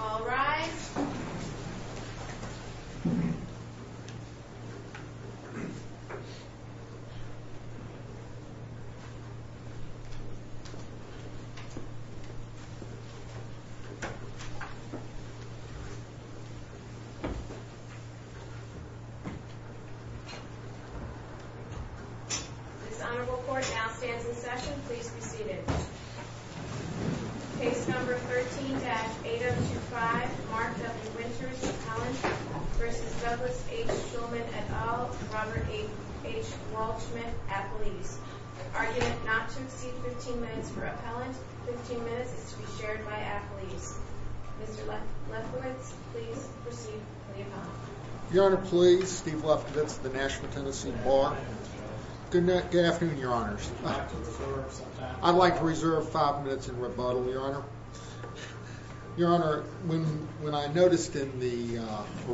All rise. This honorable court now stands in session. Please be seated. Case number 13-8025 Mark W. Winters Appellant v. Douglas H. Schulman, et al., Robert H. Walshman, Appellees. The argument not to proceed 15 minutes for appellant, 15 minutes is to be shared by appellees. Mr. Lefkowitz, please proceed for the appellant. Your Honor, please. Steve Lefkowitz of the National Tennessee Law. Good afternoon, Your Honors. I'd like to reserve five minutes in rebuttal, Your Honor. Your Honor, when I noticed in the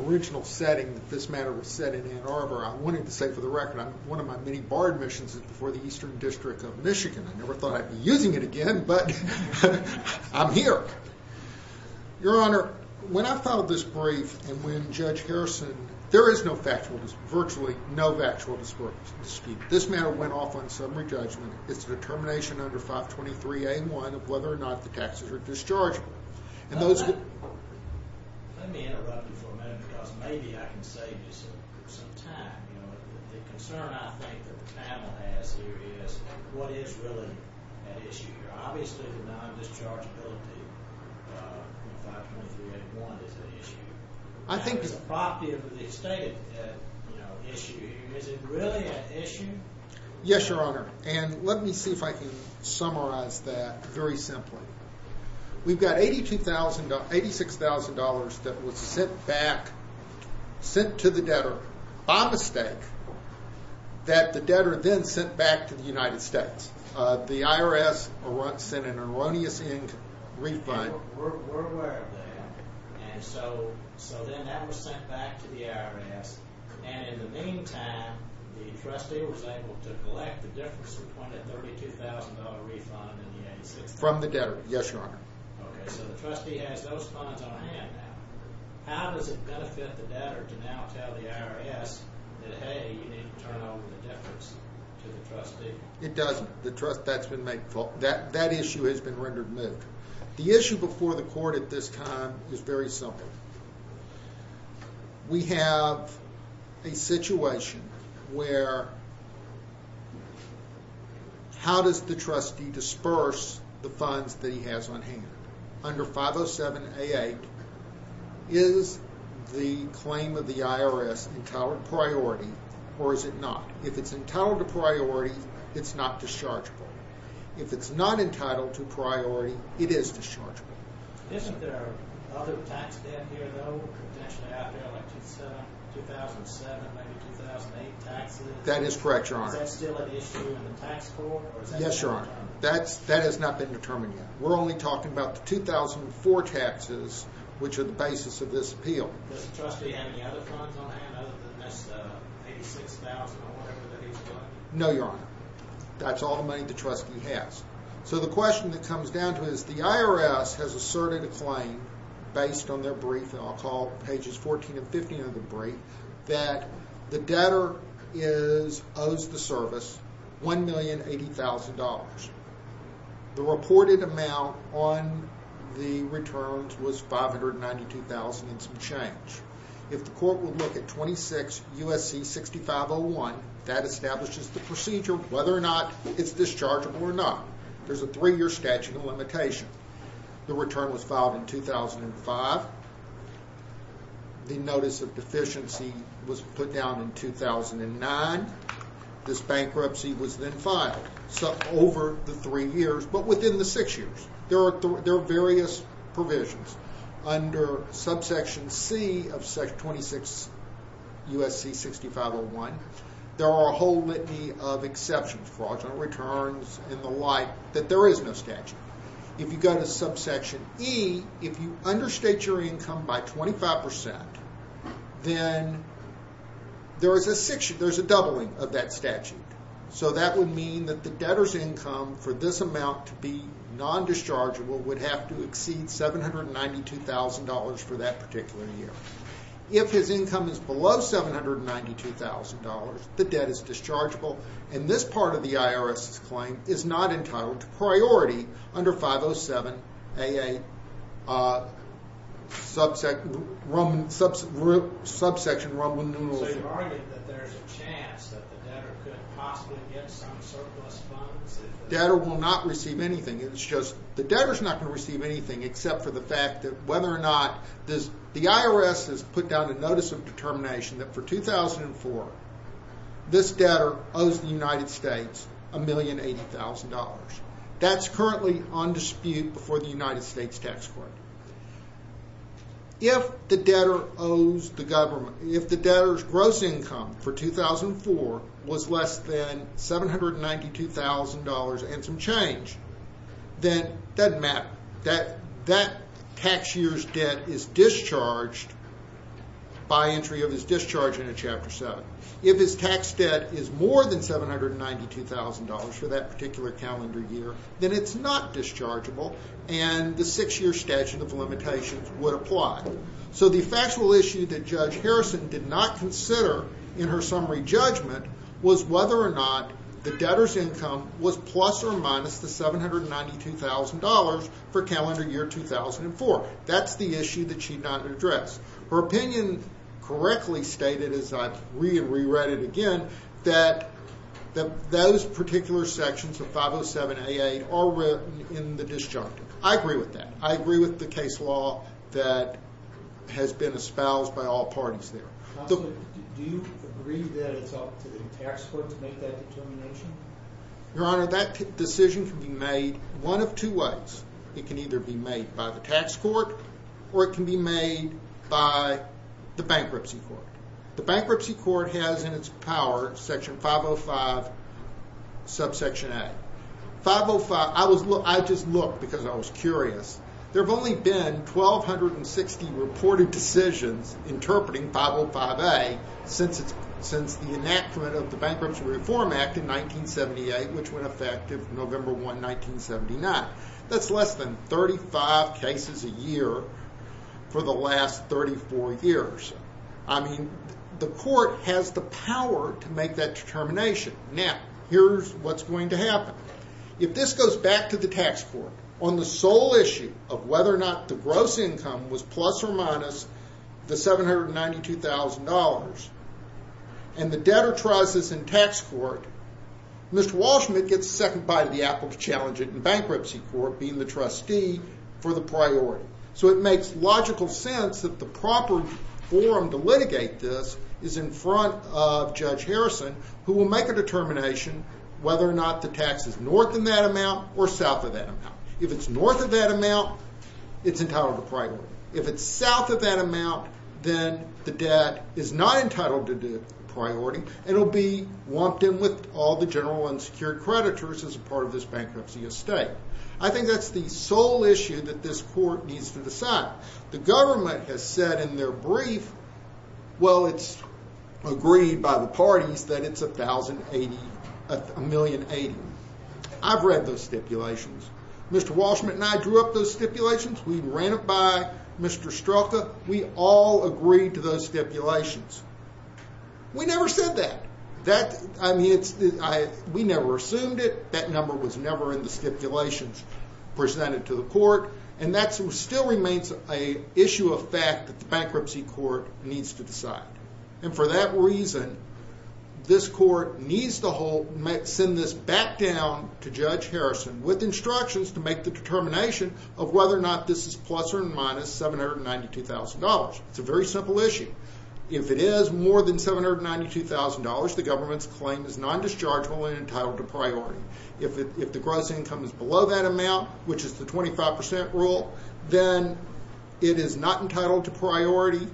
original setting that this matter was set in Ann Arbor, I wanted to say for the record, one of my many bar admissions is before the Eastern District of Michigan. I never thought I'd be using it again, but I'm here. Your Honor, when I filed this brief and when Judge Harrison, there is virtually no factual dispute. This matter went off on summary judgment. It's a determination under 523A1 of whether or not the taxes are dischargeable. Let me interrupt you for a minute because maybe I can save you some time. The concern I think that the panel has here is what is really at issue here. Obviously, the non-dischargeability in 523A1 is at issue. I think it's a property of the estate at issue. Is it really at issue? Yes, Your Honor, and let me see if I can summarize that very simply. We've got $86,000 that was sent back, sent to the debtor by mistake, that the debtor then sent back to the United States. The IRS sent an erroneous ink refund. We're aware of that. Then that was sent back to the IRS. In the meantime, the trustee was able to collect the difference between a $32,000 refund and the $86,000. From the debtor, yes, Your Honor. Okay, so the trustee has those funds on hand now. How does it benefit the debtor to now tell the IRS that, hey, you need to turn over the difference to the trustee? It doesn't. That issue has been rendered moot. The issue before the court at this time is very simple. We have a situation where how does the trustee disperse the funds that he has on hand? Under 507A8, is the claim of the IRS entitled to priority or is it not? If it's entitled to priority, it's not dischargeable. If it's not entitled to priority, it is dischargeable. Isn't there other tax debt here, though, potentially out there, like 2007, maybe 2008 taxes? That is correct, Your Honor. Is that still an issue in the tax court? Yes, Your Honor. That has not been determined yet. We're only talking about the 2004 taxes, which are the basis of this appeal. Does the trustee have any other funds on hand other than this $86,000 or whatever that he's got? No, Your Honor. That's all the money the trustee has. So the question that comes down to it is the IRS has asserted a claim based on their brief, and I'll call pages 14 and 15 of the brief, that the debtor owes the service $1,080,000. The reported amount on the returns was $592,000 and some change. If the court would look at 26 USC 6501, that establishes the procedure, whether or not it's dischargeable or not. There's a three-year statute of limitation. The return was filed in 2005. The notice of deficiency was put down in 2009. This bankruptcy was then filed over the three years, but within the six years. There are various provisions. Under subsection C of 26 USC 6501, there are a whole litany of exceptions, fraudulent returns and the like, that there is no statute. If you go to subsection E, if you understate your income by 25%, then there's a doubling of that statute. So that would mean that the debtor's income for this amount to be $792,000 for that particular year. If his income is below $792,000, the debt is dischargeable, and this part of the IRS's claim is not entitled to priority under 507-AA subsection Roman numerals. So you're arguing that there's a chance that the debtor could possibly get some surplus funds? The debtor will not receive anything. It's just the debtor's not going to receive anything except for the fact that whether or not this the IRS has put down a notice of determination that for 2004, this debtor owes the United States $1,080,000. That's currently on dispute before the United States tax court. If the debtor's gross income for 2004 was less than $792,000 and some change, then that doesn't matter. That tax year's debt is discharged by entry of his discharge into Chapter 7. If his tax debt is more than $792,000 for that particular calendar year, then it's not dischargeable, and the six-year statute of limitations would apply. So the factual issue that Judge Harrison did not consider in her summary judgment was whether or not the debtor's income was plus or minus the $792,000 for calendar year 2004. That's the issue that she did not address. Her opinion correctly stated, as I've re-read it again, that those particular sections of 507A8 are written in the disjunctive. I agree with that. I agree with the case law that has been espoused by all parties there. Do you agree that it's up to the tax court to make that determination? Your Honor, that decision can be made one of two ways. It can either be made by the tax court or it can be made by the bankruptcy court. The bankruptcy court has in its power Section 505, Subsection A. I just looked because I was curious. There have only been 1,260 reported decisions interpreting 505A since the enactment of the Bankruptcy Reform Act in 1978, which went effective November 1, 1979. That's less than 35 cases a year for the last 34 years. I mean, the court has the power to make that determination. Now, here's what's going to happen. If this goes back to the tax court on the sole issue of whether or not the gross income was plus or minus the $792,000 and the debtor tries this in tax court, Mr. Walsh gets a second bite of the apple to challenge it in bankruptcy court, being the trustee for the priority. So it makes logical sense that the proper forum to litigate this is in front of Judge Harrison, who will make a determination whether or not the tax is north of that amount or south of that amount. If it's north of that amount, it's entitled to priority. If it's south of that amount, then the debt is not entitled to priority and it will be lumped in with all the general unsecured creditors as part of this bankruptcy estate. I think that's the sole issue that this court needs to decide. The government has said in their brief, well, it's agreed by the parties that it's $1,080,000. I've read those stipulations. Mr. Walsh and I drew up those stipulations. We ran it by Mr. Strelka. We all agreed to those stipulations. We never said that. We never assumed it. That number was never in the stipulations presented to the court. And that still remains an issue of fact that the bankruptcy court needs to decide. And for that reason, this court needs to send this back down to Judge Harrison with instructions to make the determination of whether or not this is plus or minus $792,000. It's a very simple issue. If it is more than $792,000, the government's claim is non-dischargeable and entitled to priority. If the gross income is below that amount, which is the 25% rule, then it is not entitled to priority.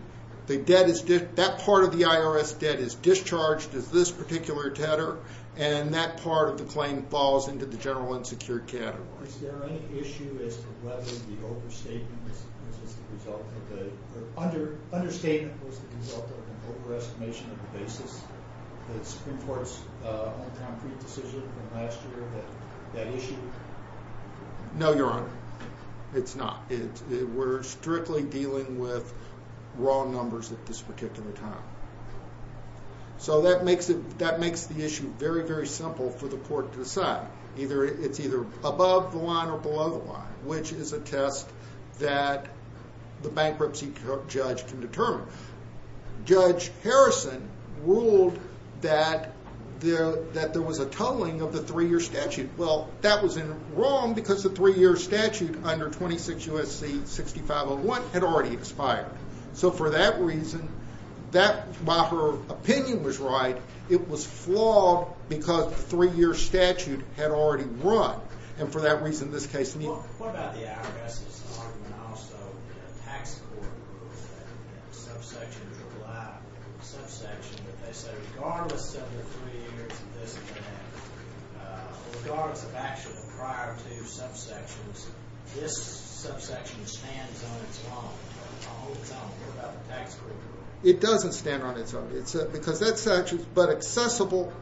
That part of the IRS debt is discharged as this particular debtor, and that part of the claim falls into the general unsecured category. Is there any issue as to whether the understatement was the result of an overestimation of the basis of the Supreme Court's decision last year? No, Your Honor. It's not. We're strictly dealing with raw numbers at this particular time. So that makes the issue very, very simple for the court to decide. It's either above the line or below the line, which is a test that the bankruptcy judge can determine. Judge Harrison ruled that there was a tolling of the three-year statute. Well, that was wrong because the three-year statute under 26 U.S.C. 6501 had already expired. So for that reason, while her opinion was right, it was flawed because the three-year statute had already run. And for that reason, this case needs to be reviewed. Well, what about the IRS's argument also? Tax court rules that subsections are allowed. A subsection that they say, regardless of the three years of this debt, regardless of action prior to subsections, this subsection stands on its own. It doesn't stand on its own because that statute is but accessible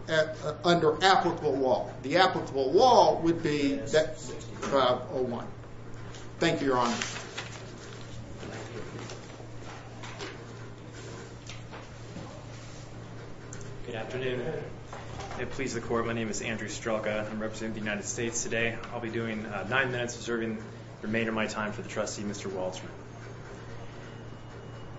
under applicable law. The applicable law would be 6501. Thank you, Your Honor. Good afternoon. It pleases the court. My name is Andrew Strelka. I'm representing the United States today. I'll be doing nine minutes observing the remainder of my time for the trustee, Mr. Waltzman.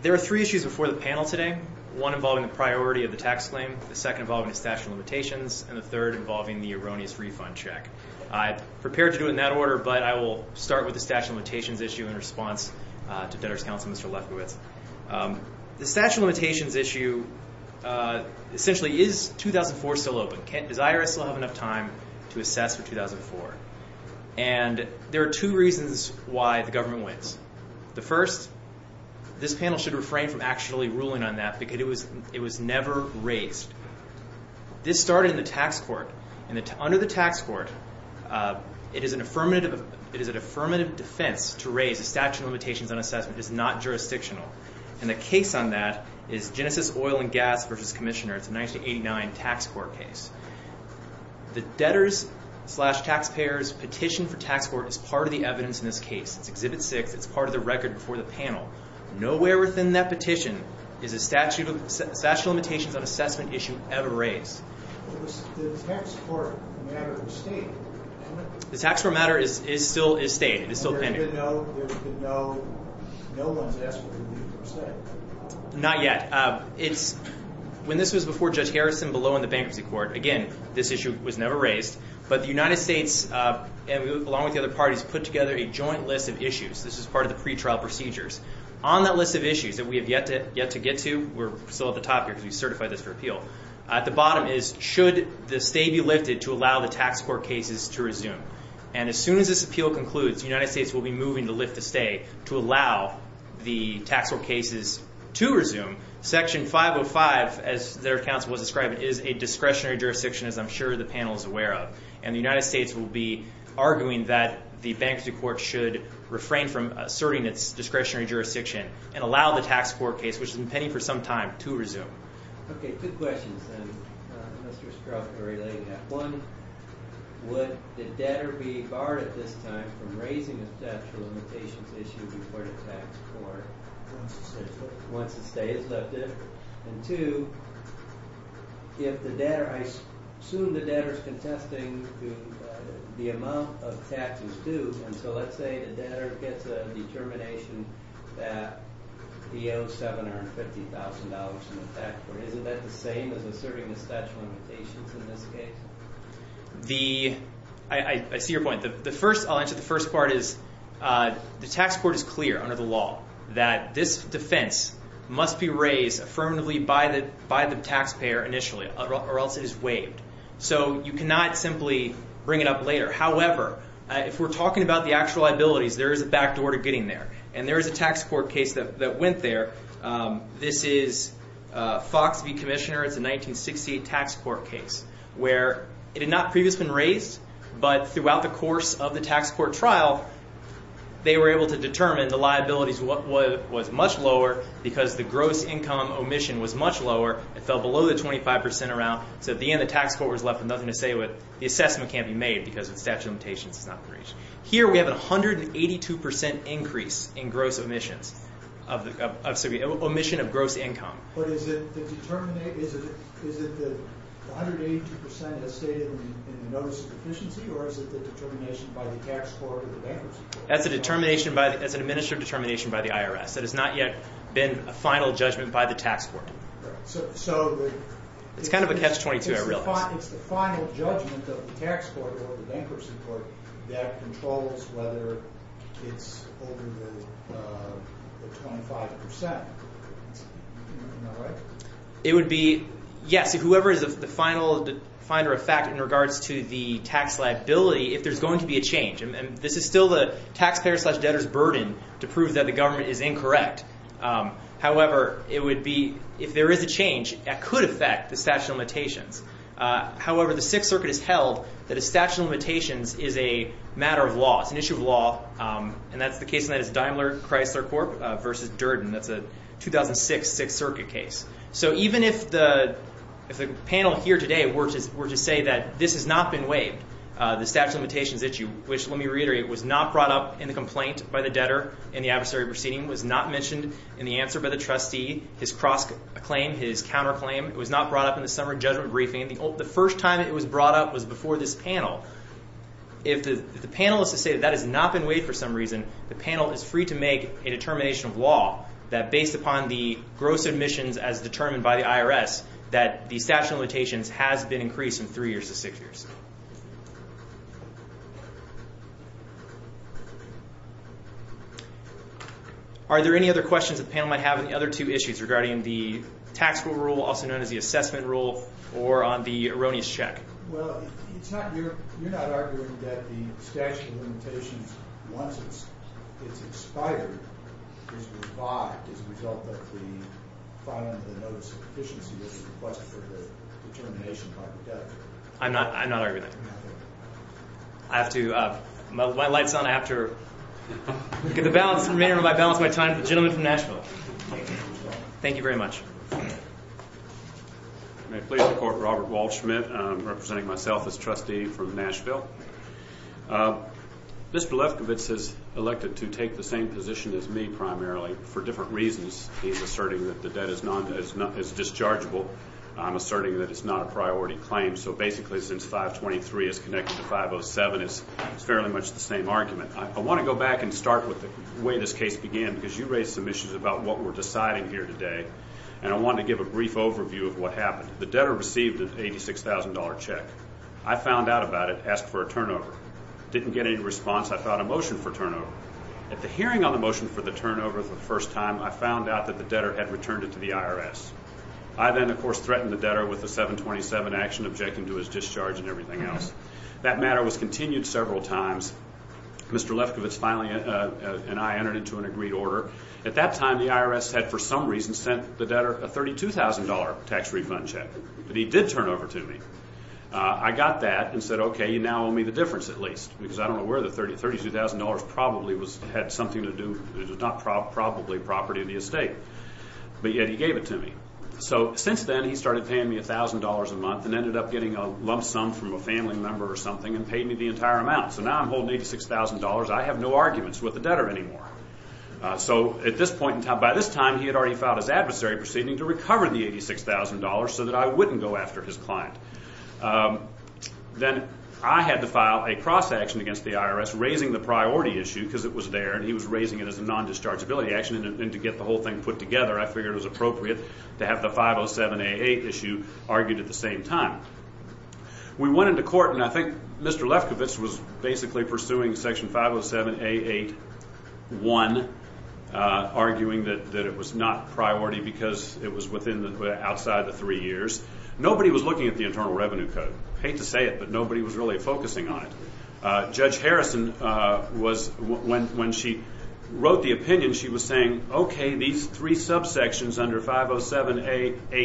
There are three issues before the panel today, one involving the priority of the tax claim, the second involving the statute of limitations, and the third involving the erroneous refund check. I prepared to do it in that order, but I will start with the statute of limitations issue in response to Debtor's Counsel, Mr. Lefkowitz. The statute of limitations issue, essentially, is 2004 still open? Does IRS still have enough time to assess for 2004? And there are two reasons why the government wins. The first, this panel should refrain from actually ruling on that because it was never raised. This started in the tax court. Under the tax court, it is an affirmative defense to raise the statute of limitations on assessment. It is not jurisdictional. And the case on that is Genesis Oil and Gas v. Commissioner. It's a 1989 tax court case. The debtor's slash taxpayer's petition for tax court is part of the evidence in this case. It's Exhibit 6. It's part of the record before the panel. Nowhere within that petition is a statute of limitations on assessment issue ever raised. The tax court matter is state, isn't it? The tax court matter is still state. It is still pending. And there's been no one's asking to leave the state? Not yet. When this was before Judge Harrison, below in the bankruptcy court, again, this issue was never raised. But the United States, along with the other parties, put together a joint list of issues. This is part of the pretrial procedures. On that list of issues that we have yet to get to, we're still at the top here because we certified this for appeal, at the bottom is should the state be lifted to allow the tax court cases to resume? And as soon as this appeal concludes, the United States will be moving to lift the state to allow the tax court cases to resume. Section 505, as their counsel was describing, is a discretionary jurisdiction, as I'm sure the panel is aware of. And the United States will be arguing that the bankruptcy court should refrain from asserting its discretionary jurisdiction and allow the tax court case, which has been pending for some time, to resume. Okay, good questions, then. Mr. Stroup, you're relaying that. One, would the debtor be barred at this time from raising a statute of limitations issue before the tax court? Once the state is lifted. Once the state is lifted. And two, if the debtor, I assume the debtor is contesting the amount of taxes due, and so let's say the debtor gets a determination that he owes $750,000 in the tax court. Is that the same as asserting the statute of limitations in this case? I see your point. I'll answer the first part is the tax court is clear under the law that this defense must be raised affirmatively by the taxpayer initially, or else it is waived. So you cannot simply bring it up later. However, if we're talking about the actual liabilities, there is a backdoor to getting there, and there is a tax court case that went there. This is Fox v. Commissioner. It's a 1968 tax court case where it had not previously been raised, but throughout the course of the tax court trial, they were able to determine the liabilities was much lower because the gross income omission was much lower. It fell below the 25% around. So at the end, the tax court was left with nothing to say. The assessment can't be made because the statute of limitations has not been reached. Here we have a 182% increase in gross omissions, omission of gross income. But is it the 182% as stated in the notice of deficiency, or is it the determination by the tax court or the bankruptcy court? That's an administrative determination by the IRS. That has not yet been a final judgment by the tax court. It's the final judgment of the tax court or the bankruptcy court that controls whether it's over the 25%. Am I right? It would be, yes, whoever is the final finder of fact in regards to the tax liability, if there's going to be a change. This is still the taxpayer's slash debtor's burden to prove that the government is incorrect. However, if there is a change, that could affect the statute of limitations. However, the Sixth Circuit has held that a statute of limitations is a matter of law. It's an issue of law, and the case on that is Daimler Chrysler Corp. v. Durden. That's a 2006 Sixth Circuit case. So even if the panel here today were to say that this has not been waived, the statute of limitations issue, which, let me reiterate, was not brought up in the complaint by the debtor in the adversary proceeding, was not mentioned in the answer by the trustee, his cross-claim, his counterclaim. It was not brought up in the summer judgment briefing. The first time it was brought up was before this panel. If the panel is to say that that has not been waived for some reason, the panel is free to make a determination of law that, based upon the gross admissions as determined by the IRS, that the statute of limitations has been increased from three years to six years. Are there any other questions the panel might have on the other two issues regarding the tax rule rule, also known as the assessment rule, or on the erroneous check? Well, you're not arguing that the statute of limitations, once it's expired, is revived as a result of the filing of the notice of proficiency that was requested for the determination by the debtor? I'm not arguing that. I have to—my light's on. I have to get the balance. May I balance my time with the gentleman from Nashville? Thank you very much. May it please the Court, Robert Walsh. I'm representing myself as trustee from Nashville. Mr. Lefkowitz is elected to take the same position as me, primarily, for different reasons. He's asserting that the debt is dischargeable. I'm asserting that it's not a priority claim. So, basically, since 523 is connected to 507, it's fairly much the same argument. I want to go back and start with the way this case began, because you raised some issues about what we're deciding here today. And I want to give a brief overview of what happened. The debtor received an $86,000 check. I found out about it, asked for a turnover. Didn't get any response. I filed a motion for turnover. At the hearing on the motion for the turnover for the first time, I found out that the debtor had returned it to the IRS. I then, of course, threatened the debtor with a 727 action, objecting to his discharge and everything else. That matter was continued several times. Mr. Lefkowitz finally and I entered into an agreed order. At that time, the IRS had, for some reason, sent the debtor a $32,000 tax refund check. But he did turn over to me. I got that and said, okay, you now owe me the difference at least, because I don't know where the $32,000 probably had something to do with it. It was not probably property of the estate. But yet he gave it to me. Since then, he started paying me $1,000 a month and ended up getting a lump sum from a family member or something and paid me the entire amount. Now I'm holding $86,000. I have no arguments with the debtor anymore. By this time, he had already filed his adversary proceeding to recover the $86,000 so that I wouldn't go after his client. Then I had to file a cross-action against the IRS, raising the priority issue because it was there. And he was raising it as a non-dischargeability action. And to get the whole thing put together, I figured it was appropriate to have the 507A8 issue argued at the same time. We went into court, and I think Mr. Lefkowitz was basically pursuing Section 507A8-1, arguing that it was not priority because it was outside of the three years. Nobody was looking at the Internal Revenue Code. I hate to say it, but nobody was really focusing on it. Judge Harrison, when she wrote the opinion, she was saying, okay, these three subsections under 507A8A,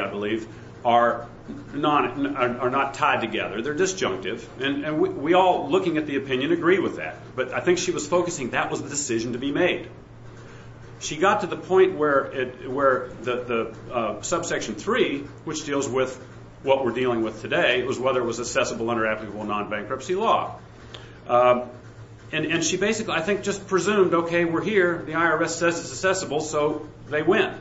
I believe, are not tied together. They're disjunctive. And we all, looking at the opinion, agree with that. But I think she was focusing that was the decision to be made. She got to the point where the Subsection 3, which deals with what we're dealing with today, was whether it was accessible under applicable non-bankruptcy law. And she basically, I think, just presumed, okay, we're here. The IRS says it's accessible, so they win.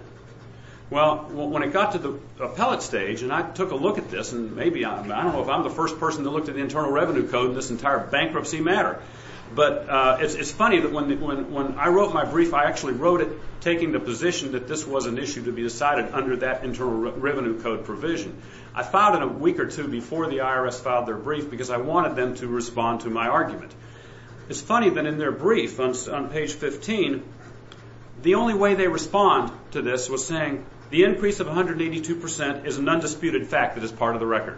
Well, when it got to the appellate stage, and I took a look at this, and maybe, I don't know if I'm the first person to look at the Internal Revenue Code in this entire bankruptcy matter. But it's funny that when I wrote my brief, I actually wrote it taking the position that this was an issue to be decided under that Internal Revenue Code provision. I filed it a week or two before the IRS filed their brief because I wanted them to respond to my argument. It's funny that in their brief on page 15, the only way they respond to this was saying the increase of 182% is an undisputed fact that is part of the record.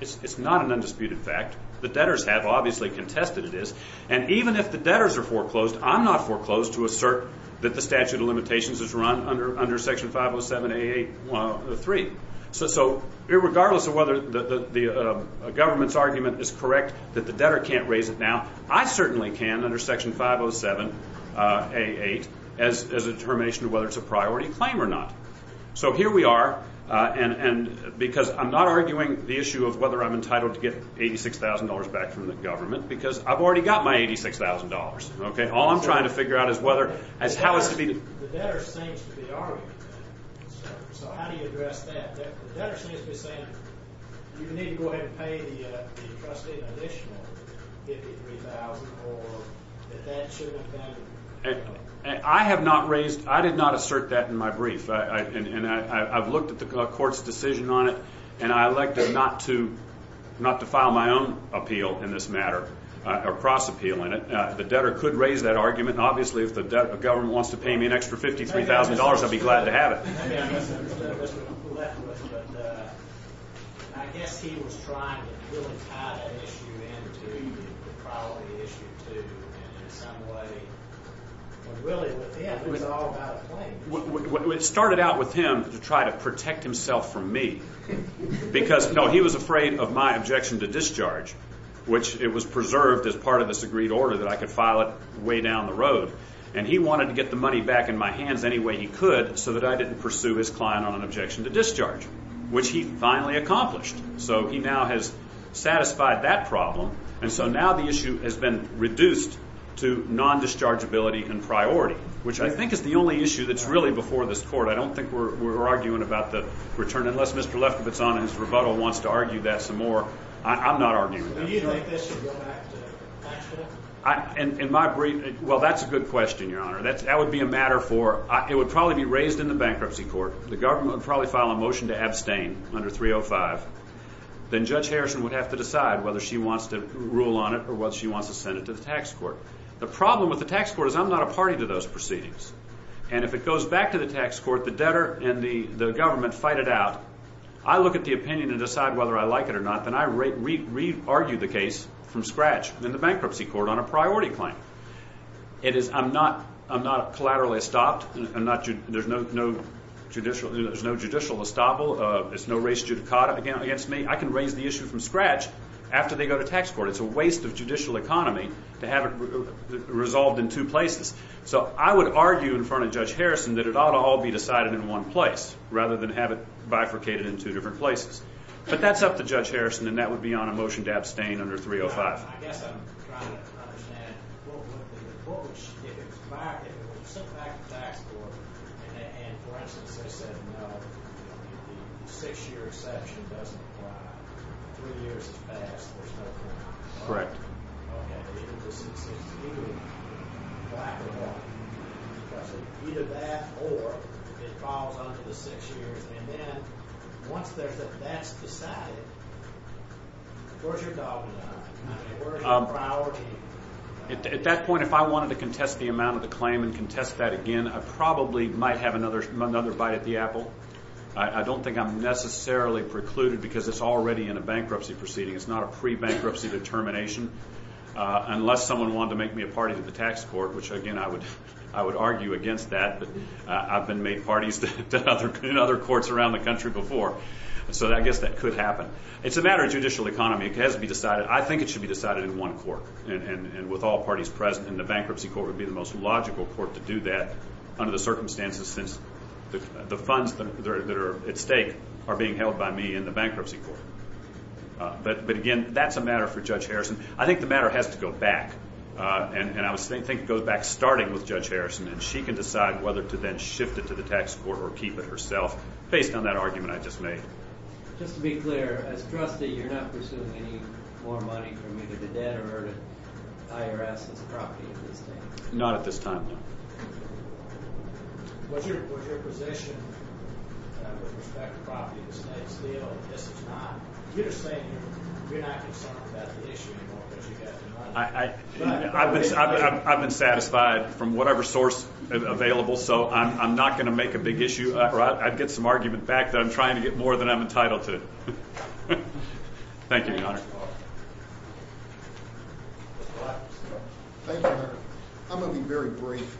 It's not an undisputed fact. The debtors have obviously contested this. And even if the debtors are foreclosed, I'm not foreclosed to assert that the statute of limitations is run under Section 507A3. So regardless of whether the government's argument is correct that the debtor can't raise it now, I certainly can under Section 507A8 as a determination of whether it's a priority claim or not. So here we are. And because I'm not arguing the issue of whether I'm entitled to get $86,000 back from the government because I've already got my $86,000. All I'm trying to figure out is whether – is how it's to be – The debtor seems to be arguing that. So how do you address that? The debtor seems to be saying you need to go ahead and pay the trustee an additional $53,000 or that that shouldn't happen. I have not raised – I did not assert that in my brief. And I've looked at the court's decision on it, and I elected not to file my own appeal in this matter or cross-appeal in it. The debtor could raise that argument. Obviously, if the government wants to pay me an extra $53,000, I'd be glad to have it. I guess he was trying to really tie that issue in to the priority issue, too, in some way. But really with him, it was all about a claim. It started out with him to try to protect himself from me because, no, he was afraid of my objection to discharge, which it was preserved as part of the agreed order that I could file it way down the road. And he wanted to get the money back in my hands any way he could so that I didn't pursue his client on an objection to discharge, which he finally accomplished. So he now has satisfied that problem, and so now the issue has been reduced to non-dischargeability and priority, which I think is the only issue that's really before this court. I don't think we're arguing about the return. Unless Mr. Lefkowitz on in his rebuttal wants to argue that some more, I'm not arguing that issue. Do you think this should go back to actual? Well, that's a good question, Your Honor. That would be a matter for – it would probably be raised in the bankruptcy court. The government would probably file a motion to abstain under 305. Then Judge Harrison would have to decide whether she wants to rule on it or whether she wants to send it to the tax court. The problem with the tax court is I'm not a party to those proceedings. And if it goes back to the tax court, the debtor and the government fight it out. I look at the opinion and decide whether I like it or not. And I re-argue the case from scratch in the bankruptcy court on a priority claim. I'm not collaterally estopped. There's no judicial estoppel. There's no race judicata against me. I can raise the issue from scratch after they go to tax court. It's a waste of judicial economy to have it resolved in two places. So I would argue in front of Judge Harrison that it ought to all be decided in one place rather than have it bifurcated in two different places. But that's up to Judge Harrison, and that would be on a motion to abstain under 305. I guess I'm trying to understand what would be the approach if it was sent back to the tax court, and, for instance, they said, no, the six-year exception doesn't apply. Three years is past. There's no point. Correct. Okay. Either this is due back or what? Either that or it falls under the six years. And then once that's decided, where's your dog now? Where's your priority? At that point, if I wanted to contest the amount of the claim and contest that again, I probably might have another bite at the apple. I don't think I'm necessarily precluded because it's already in a bankruptcy proceeding. It's not a pre-bankruptcy determination unless someone wanted to make me a party to the tax court, which, again, I would argue against that. But I've been made parties to other courts around the country before, so I guess that could happen. It's a matter of judicial economy. It has to be decided. I think it should be decided in one court and with all parties present, and the bankruptcy court would be the most logical court to do that under the circumstances since the funds that are at stake are being held by me in the bankruptcy court. But, again, that's a matter for Judge Harrison. I think the matter has to go back, and I think it goes back starting with Judge Harrison, and she can decide whether to then shift it to the tax court or keep it herself based on that argument I just made. Just to be clear, as trustee, you're not pursuing any more money from either the debt or IRS's property at this time? Not at this time, no. What's your position with respect to property in the state still? Yes, it's not. You're just saying you're not concerned about the issue anymore because you've got the money. I've been satisfied from whatever source available, so I'm not going to make a big issue. I'd get some argument back that I'm trying to get more than I'm entitled to. Thank you, Your Honor. Thank you, Your Honor. I'm going to be very brief.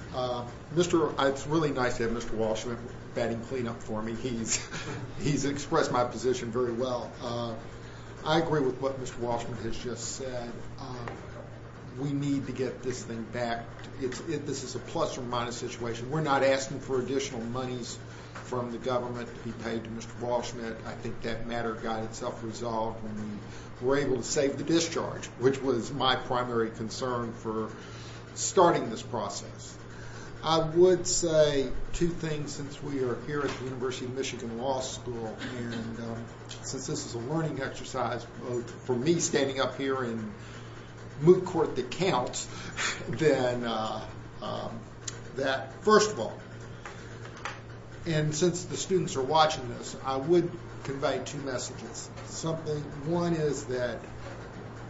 It's really nice to have Mr. Walshman batting clean up for me. He's expressed my position very well. I agree with what Mr. Walshman has just said. We need to get this thing back. This is a plus or minus situation. We're not asking for additional monies from the government to be paid to Mr. Walshman. I think that matter got itself resolved when we were able to save the discharge, which was my primary concern for starting this process. I would say two things since we are here at the University of Michigan Law School, and since this is a learning exercise for me standing up here in moot court that counts, that first of all, and since the students are watching this, I would convey two messages. One is that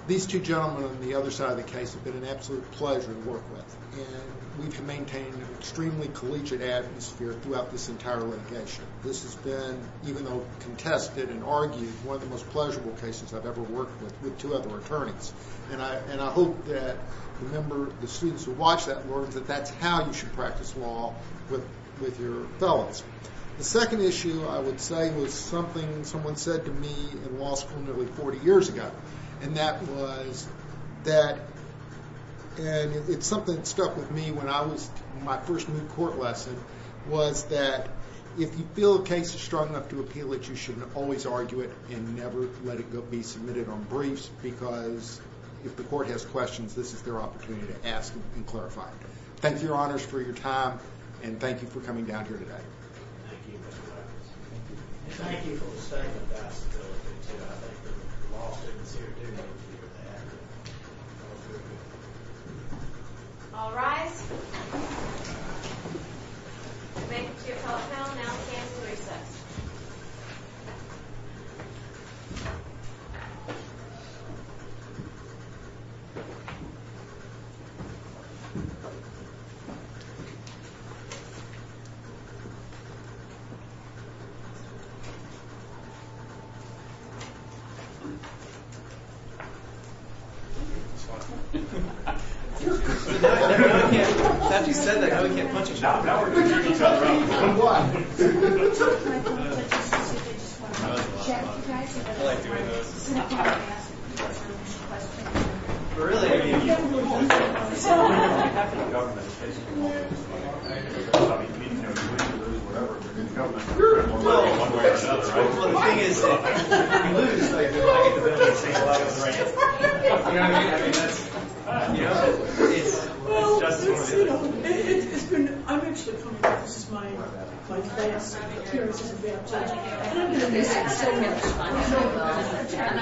these two gentlemen on the other side of the case have been an absolute pleasure to work with, and we've maintained an extremely collegiate atmosphere throughout this entire litigation. This has been, even though contested and argued, one of the most pleasurable cases I've ever worked with with two other attorneys. And I hope that the students who watch that learn that that's how you should practice law with your fellows. The second issue, I would say, was something someone said to me in law school nearly 40 years ago, and that was that, and it's something that stuck with me when I was in my first moot court lesson, was that if you feel a case is strong enough to appeal it, you shouldn't always argue it and never let it be submitted on briefs, because if the court has questions, this is their opportunity to ask and clarify. Thank you, Your Honors, for your time, and thank you for coming down here today. Thank you, Mr. Harkness. And thank you for the statement about stability, too. I think the law students here do need to hear that. All rise. Thank you. Thank you. I'll now hand the reception. Thank you. Thank you. After you said that, now we can't punch each other. Now we're going to punch each other. Why? I like doing those. I like doing those. Really, I mean, you have to be government, basically. You have to be government. Well, the thing is, if you lose, I get the benefit of saying a lot of them, right? You know what I mean? You know, it's just as important. Well, it's, you know, it has been, I'm actually, this is my first appearance as a judge. And I'm going to miss it so much. I know.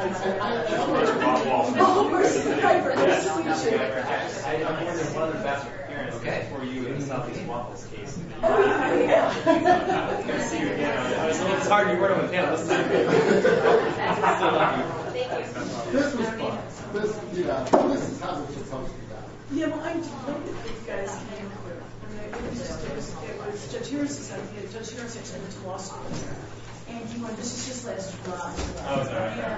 I'm sorry. All of us. I'm hoping there's one other faster appearance for you in the Southeast Wallace case. I'm going to see you again. I'm sorry you weren't on the panel. I still love you. Thank you. This was fun. This, you know, this is not what you thought it was going to be about. Yeah, well, I'm delighted that you guys came here. I mean, it was just, it was Judge Hirons' idea. Judge Hirons actually went to law school here. And he went, this is his last run.